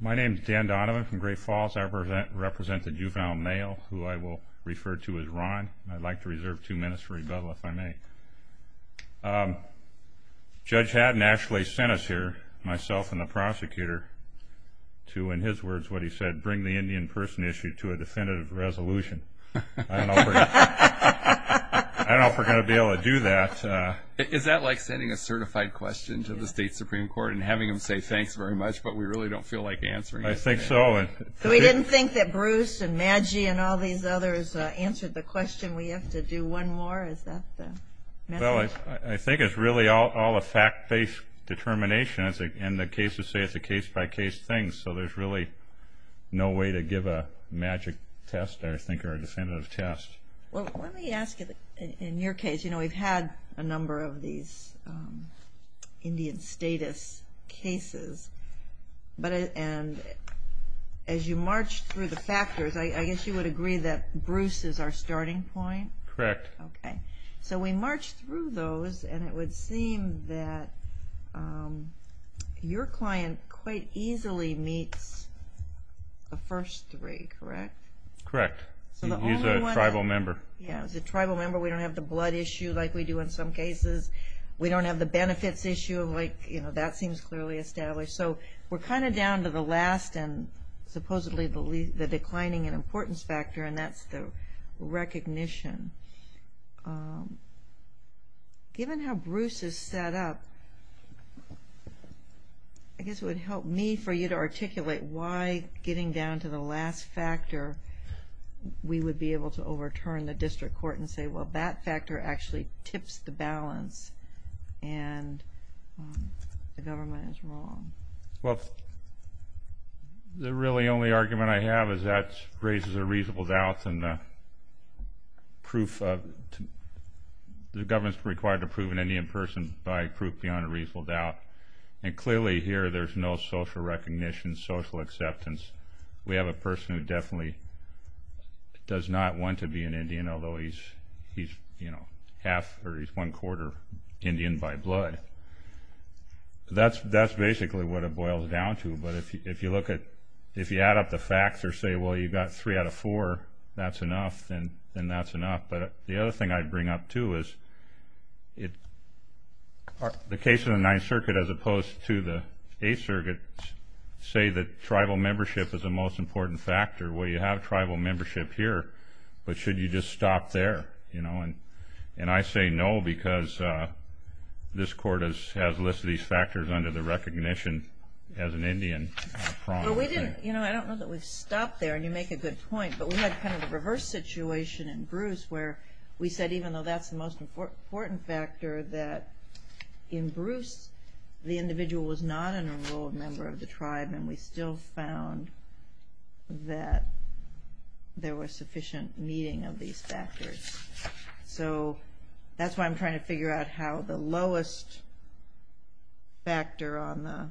My name is Dan Donovan from Great Falls. I represent the Juvenile Male, who I will refer to as Ron. I'd like to reserve two minutes for rebuttal, if I may. Judge Haddon actually sent us here, myself and the prosecutor, to, in his words, what he said, bring the Indian person issue to a definitive resolution. I don't know if we're going to be able to do that. Is that like sending a certified question to the State Supreme Court and having them say, thanks very much, but we really don't feel like answering it? I think so. So we didn't think that Bruce and Madgie and all these others answered the question, we have to do one more? Is that the message? Well, I think it's really all a fact-based determination, and the cases say it's a case-by-case thing, so there's really no way to give a magic test, I think, or a definitive test. Well, let me ask you, in your case, we've had a number of these Indian status cases, and as you march through the factors, I guess you would agree that Bruce is our starting point? Correct. Okay. So we march through those, and it would seem that your client quite easily meets the first three, correct? Correct. He's a tribal member. Yeah, he's a tribal member, we don't have the blood issue like we do in some cases, we don't have the benefits issue, like, you know, that seems clearly established. So we're kind of down to the last and supposedly the declining in importance factor, and that's the recognition. Given how Bruce is set up, I guess it would help me for you to articulate why getting down to the last factor we would be able to overturn the district court and say, well, that factor actually tips the balance, and the government is wrong. Well, the really only argument I have is that raises a reasonable doubt, and the government's required to prove an Indian person by proof beyond a reasonable doubt, and clearly here there's no social recognition, social acceptance. We have a person who definitely does not want to be an Indian, although he's, you know, half or he's one quarter Indian by blood. That's basically what it boils down to, but if you look at, if you add up the facts or say, well, you've got three out of four, that's enough, then that's enough. But the other thing I'd bring up, too, is the case of the Ninth Circuit as opposed to the Eighth Circuit say that tribal membership is the most important factor. Well, you have tribal membership here, but should you just stop there? You know, and I say no because this court has listed these factors under the recognition as an Indian. But we didn't, you know, I don't know that we've stopped there, and you make a good point, but we had kind of a reverse situation in Bruce where we said even though that's the most important factor that in Bruce the individual was not an enrolled member of the tribe, and we still found that there was sufficient meeting of these factors. So that's why I'm trying to figure out how the lowest factor on the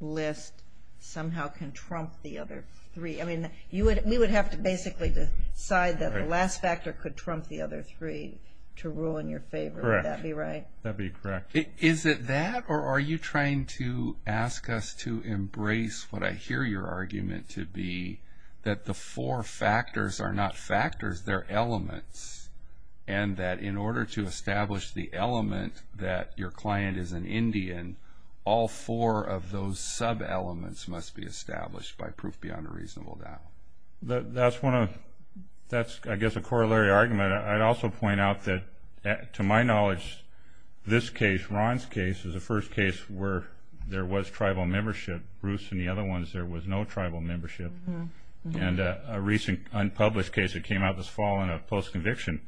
list somehow can trump the other three. I mean, we would have to basically decide that the last factor could trump the other three to rule in your favor. Correct. Would that be right? That'd be correct. Is it that, or are you trying to ask us to embrace what I hear your argument to be that the four factors are not factors, they're elements, and that in order to establish the element that your client is an Indian, all four of those sub-elements must be established by proof beyond a reasonable doubt? That's one of, that's I guess a corollary argument. I'd also point out that to my knowledge this case, Ron's case, is the first case where there was tribal membership. Bruce and the other ones, there was no tribal membership. And a recent unpublished case that came out this fall in a post-conviction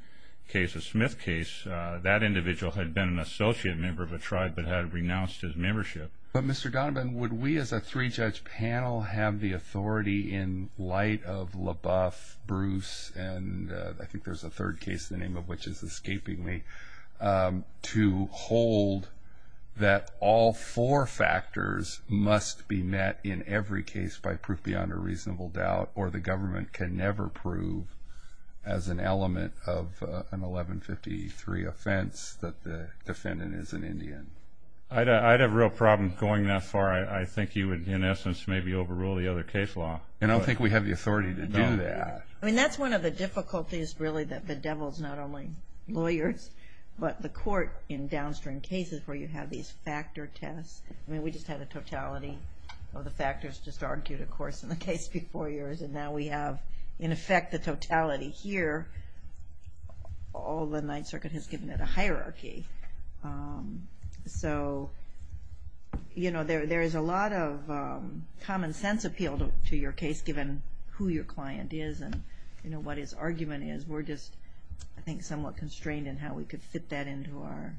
case, a Smith case, that individual had been an associate member of a tribe but had renounced his membership. But, Mr. Donovan, would we as a three-judge panel have the authority in light of LaBeouf, Bruce, and I think there's a third case, the name of which is escaping me, to hold that all four factors must be met in every case by proof beyond a reasonable doubt, or the government can never prove as an element of an 1153 offense that the defendant is an Indian? I'd have a real problem going that far. I think you would, in essence, maybe overrule the other case law. And I don't think we have the authority to do that. I mean, that's one of the difficulties, really, that the devil's not only lawyers, but the court in downstream cases where you have these factor tests. I mean, we just had a totality of the factors just argued, of course, in the case before yours, and now we have, in effect, the totality here. All the Ninth Circuit has given it a hierarchy. So, you know, there is a lot of common sense appeal to your case, given who your client is and, you know, what his argument is. We're just, I think, somewhat constrained in how we could fit that into our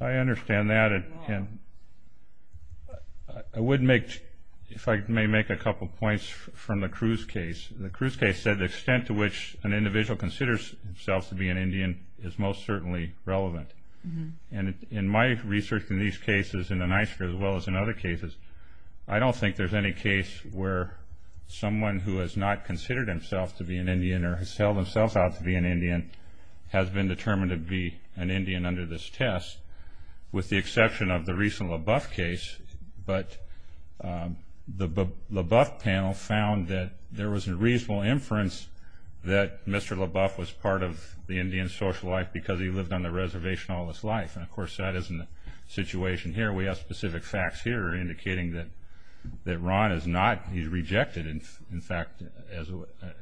law. I understand that. I would make, if I may make a couple points from the Cruz case. The Cruz case said the extent to which an individual considers himself to be an Indian is most certainly relevant. And in my research in these cases, in the Ninth Circuit as well as in other cases, I don't think there's any case where someone who has not considered himself to be an Indian or has held himself out to be an Indian has been determined to be an Indian under this test, with the exception of the recent LaBeouf case. But the LaBeouf panel found that there was a reasonable inference that Mr. LaBeouf was part of the Indian social life because he lived on the reservation all his life. And, of course, that isn't the situation here. We have specific facts here indicating that Ron is not, he's rejected, in fact,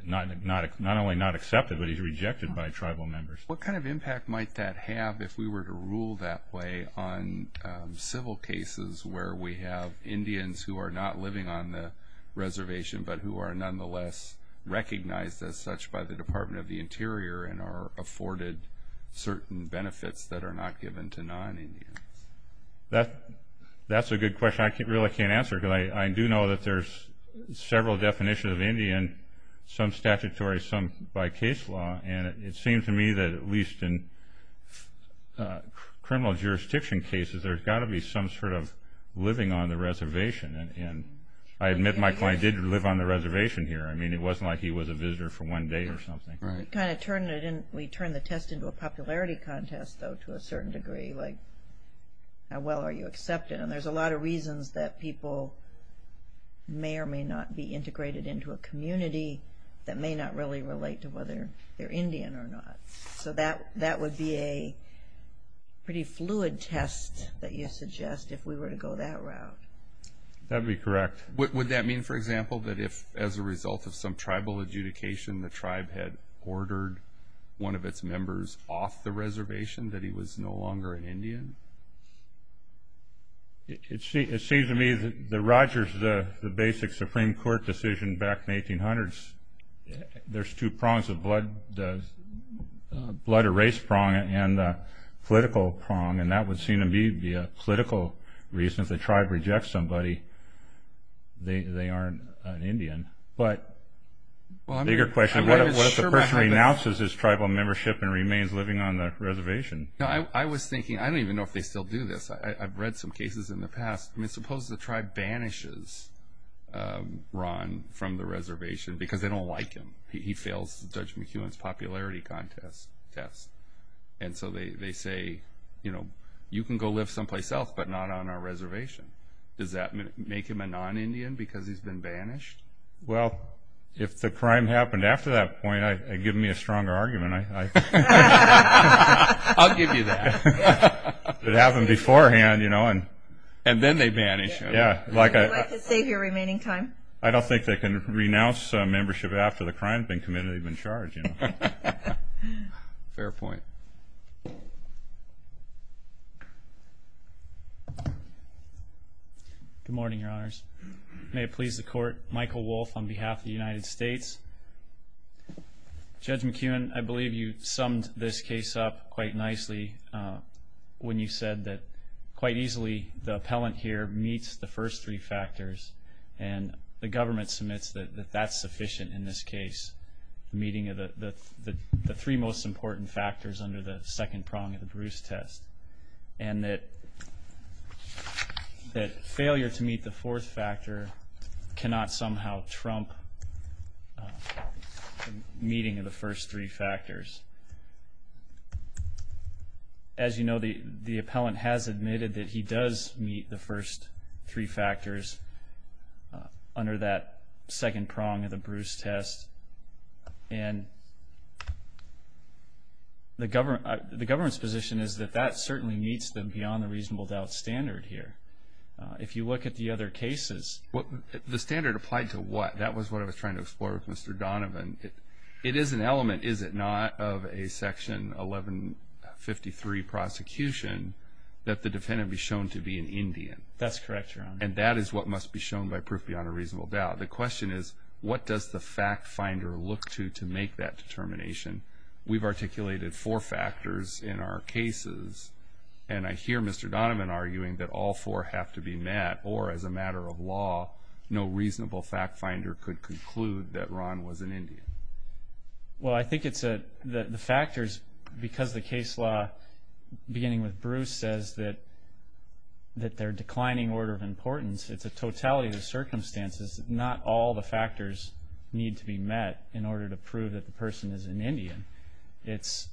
not only not accepted, but he's rejected by tribal members. What kind of impact might that have if we were to rule that way on civil cases where we have Indians who are not living on the reservation but who are nonetheless recognized as such by the Department of the Interior and are afforded certain benefits that are not given to non-Indians? That's a good question. I really can't answer it because I do know that there's several definitions of Indian, some statutory, some by case law. And it seems to me that at least in criminal jurisdiction cases, there's got to be some sort of living on the reservation. And I admit my client did live on the reservation here. I mean, it wasn't like he was a visitor for one day or something. We kind of turned the test into a popularity contest, though, to a certain degree. Like, how well are you accepted? And there's a lot of reasons that people may or may not be integrated into a community that may not really relate to whether they're Indian or not. So that would be a pretty fluid test that you suggest if we were to go that route. That would be correct. Would that mean, for example, that if, as a result of some tribal adjudication, the tribe had ordered one of its members off the reservation, that he was no longer an Indian? It seems to me that the Rogers, the basic Supreme Court decision back in the 1800s, there's two prongs, the blood or race prong and the political prong. And that would seem to me to be a political reason. If the tribe rejects somebody, they aren't an Indian. But bigger question, what if the person renounces his tribal membership and remains living on the reservation? I was thinking, I don't even know if they still do this. I've read some cases in the past. I mean, suppose the tribe banishes Ron from the reservation because they don't like him. He fails Judge McEwen's popularity contest test. And so they say, you know, you can go live someplace else but not on our reservation. Does that make him a non-Indian because he's been banished? Well, if the crime happened after that point, give me a stronger argument. I'll give you that. If it happened beforehand, you know. And then they banish him. Would you like to save your remaining time? I don't think they can renounce membership after the crime has been committed and they've been charged, you know. Fair point. Good morning, Your Honors. May it please the Court, Michael Wolfe on behalf of the United States. Judge McEwen, I believe you summed this case up quite nicely when you said that quite easily the appellant here meets the first three factors and the government submits that that's sufficient in this case. The meeting of the three most important factors under the second prong of the Bruce test and that failure to meet the fourth factor cannot somehow trump meeting of the first three factors. As you know, the appellant has admitted that he does meet the first three factors under that second prong of the Bruce test. And the government's position is that that certainly meets the beyond the reasonable doubt standard here. If you look at the other cases. The standard applied to what? That was what I was trying to explore with Mr. Donovan. It is an element, is it not, of a Section 1153 prosecution that the defendant be shown to be an Indian. That's correct, Your Honor. And that is what must be shown by proof beyond a reasonable doubt. The question is what does the fact finder look to to make that determination? We've articulated four factors in our cases. And I hear Mr. Donovan arguing that all four have to be met or, as a matter of law, no reasonable fact finder could conclude that Ron was an Indian. Well, I think it's the factors because the case law, beginning with Bruce, says that they're declining order of importance. It's a totality of circumstances. Not all the factors need to be met in order to prove that the person is an Indian. It's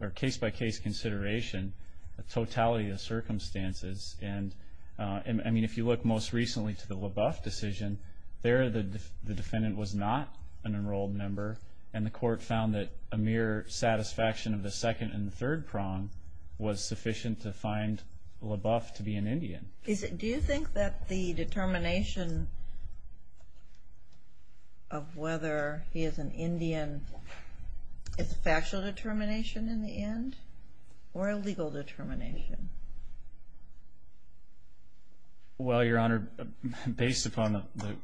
a case-by-case consideration, a totality of circumstances. And, I mean, if you look most recently to the LaBeouf decision, there the defendant was not an enrolled member, and the court found that a mere satisfaction of the second and third prong was sufficient to find LaBeouf to be an Indian. Do you think that the determination of whether he is an Indian is a factual determination in the end or a legal determination? Well, Your Honor, based upon the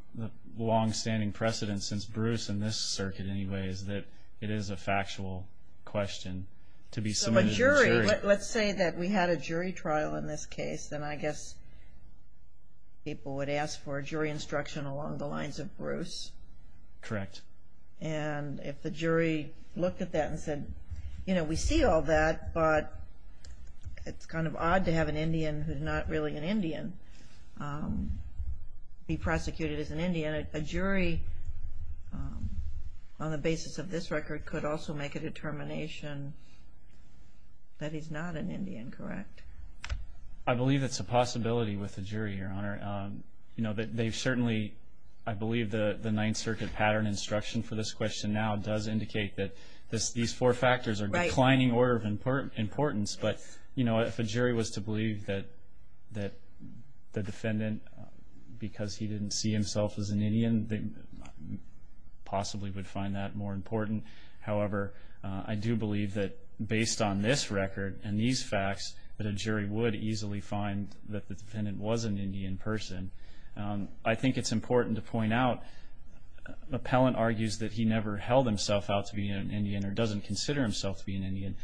longstanding precedence since Bruce in this circuit anyway, is that it is a factual question to be submitted to a jury. So a jury, let's say that we had a jury trial in this case, then I guess people would ask for a jury instruction along the lines of Bruce. Correct. And if the jury looked at that and said, you know, we see all that, but it's kind of odd to have an Indian who's not really an Indian be prosecuted as an Indian, a jury on the basis of this record could also make a determination that he's not an Indian, correct? I believe it's a possibility with the jury, Your Honor. You know, they've certainly, I believe the Ninth Circuit pattern instruction for this question now does indicate that these four factors are declining order of importance. But, you know, if a jury was to believe that the defendant, because he didn't see himself as an Indian, they possibly would find that more important. However, I do believe that based on this record and these facts, that a jury would easily find that the defendant was an Indian person. I think it's important to point out Appellant argues that he never held himself out to be an Indian or doesn't consider himself to be an Indian.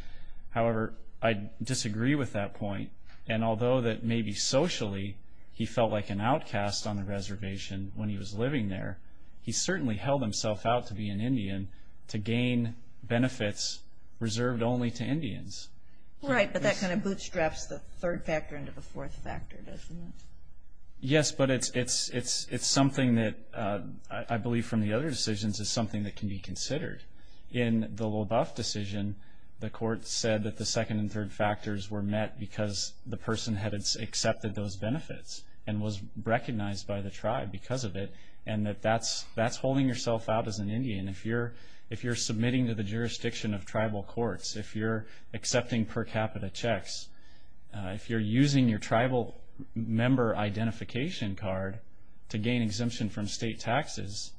However, I disagree with that point. And although that maybe socially he felt like an outcast on the reservation when he was living there, he certainly held himself out to be an Indian to gain benefits reserved only to Indians. Right, but that kind of bootstraps the third factor into the fourth factor, doesn't it? Yes, but it's something that I believe from the other decisions is something that can be considered. In the Loboff decision, the court said that the second and third factors were met because the person had accepted those benefits and was recognized by the tribe because of it, and that that's holding yourself out as an Indian. If you're submitting to the jurisdiction of tribal courts, if you're accepting per capita checks, if you're using your tribal member identification card to gain exemption from state taxes,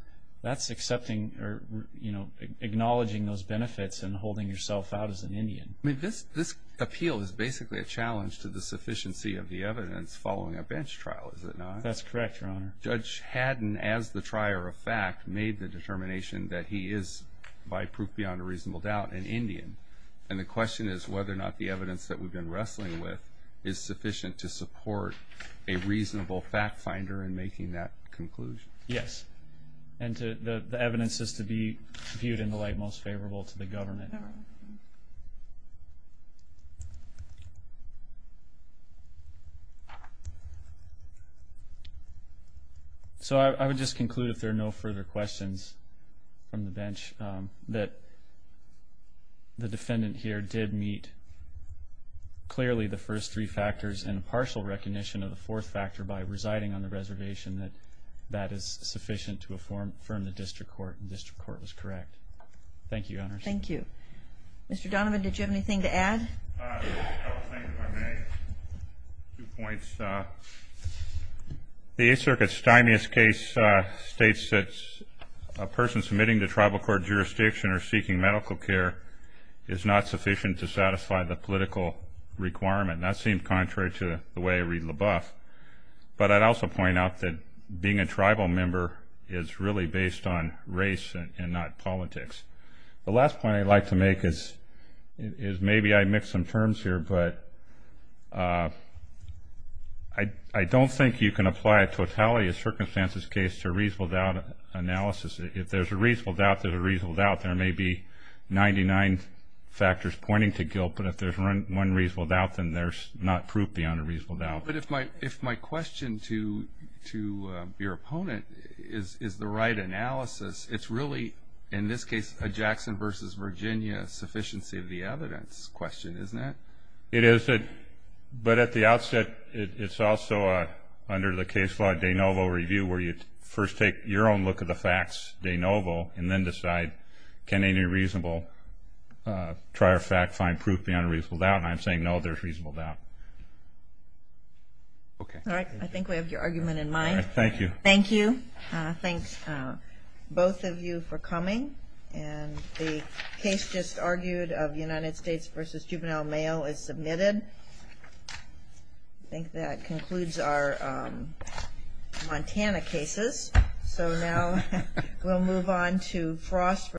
that's accepting or, you know, acknowledging those benefits and holding yourself out as an Indian. I mean, this appeal is basically a challenge to the sufficiency of the evidence following a bench trial, is it not? That's correct, Your Honor. Judge Haddon, as the trier of fact, made the determination that he is, by proof beyond a reasonable doubt, an Indian. And the question is whether or not the evidence that we've been wrestling with is sufficient to support a reasonable fact finder in making that conclusion. Yes, and the evidence is to be viewed in the light most favorable to the government. So I would just conclude, if there are no further questions from the bench, that the defendant here did meet clearly the first three factors and a partial recognition of the fourth factor by residing on the reservation, that that is sufficient to affirm the district court, and the district court was correct. Thank you, Your Honor. Thank you. Mr. Donovan, did you have anything to add? I will say, if I may, two points. The Eighth Circuit's stymiest case states that a person submitting to tribal court jurisdiction or seeking medical care is not sufficient to satisfy the political requirement, and that seems contrary to the way I read LaBeouf. But I'd also point out that being a tribal member is really based on race and not politics. The last point I'd like to make is maybe I mixed some terms here, but I don't think you can apply a totality of circumstances case to a reasonable doubt analysis. If there's a reasonable doubt, there's a reasonable doubt. There may be 99 factors pointing to guilt, but if there's one reasonable doubt, then there's not proof beyond a reasonable doubt. But if my question to your opponent is the right analysis, it's really, in this case, a Jackson v. Virginia sufficiency of the evidence question, isn't it? It is. But at the outset, it's also under the case law de novo review where you first take your own look at the facts de novo and then decide can any reasonable trier fact find proof beyond a reasonable doubt, and I'm saying no, there's a reasonable doubt. Okay. All right. I think we have your argument in mind. Thank you. Thank you. Thanks, both of you, for coming. And the case just argued of United States v. Juvenile Mail is submitted. I think that concludes our Montana cases. So now we'll move on to Frost v. Virginia.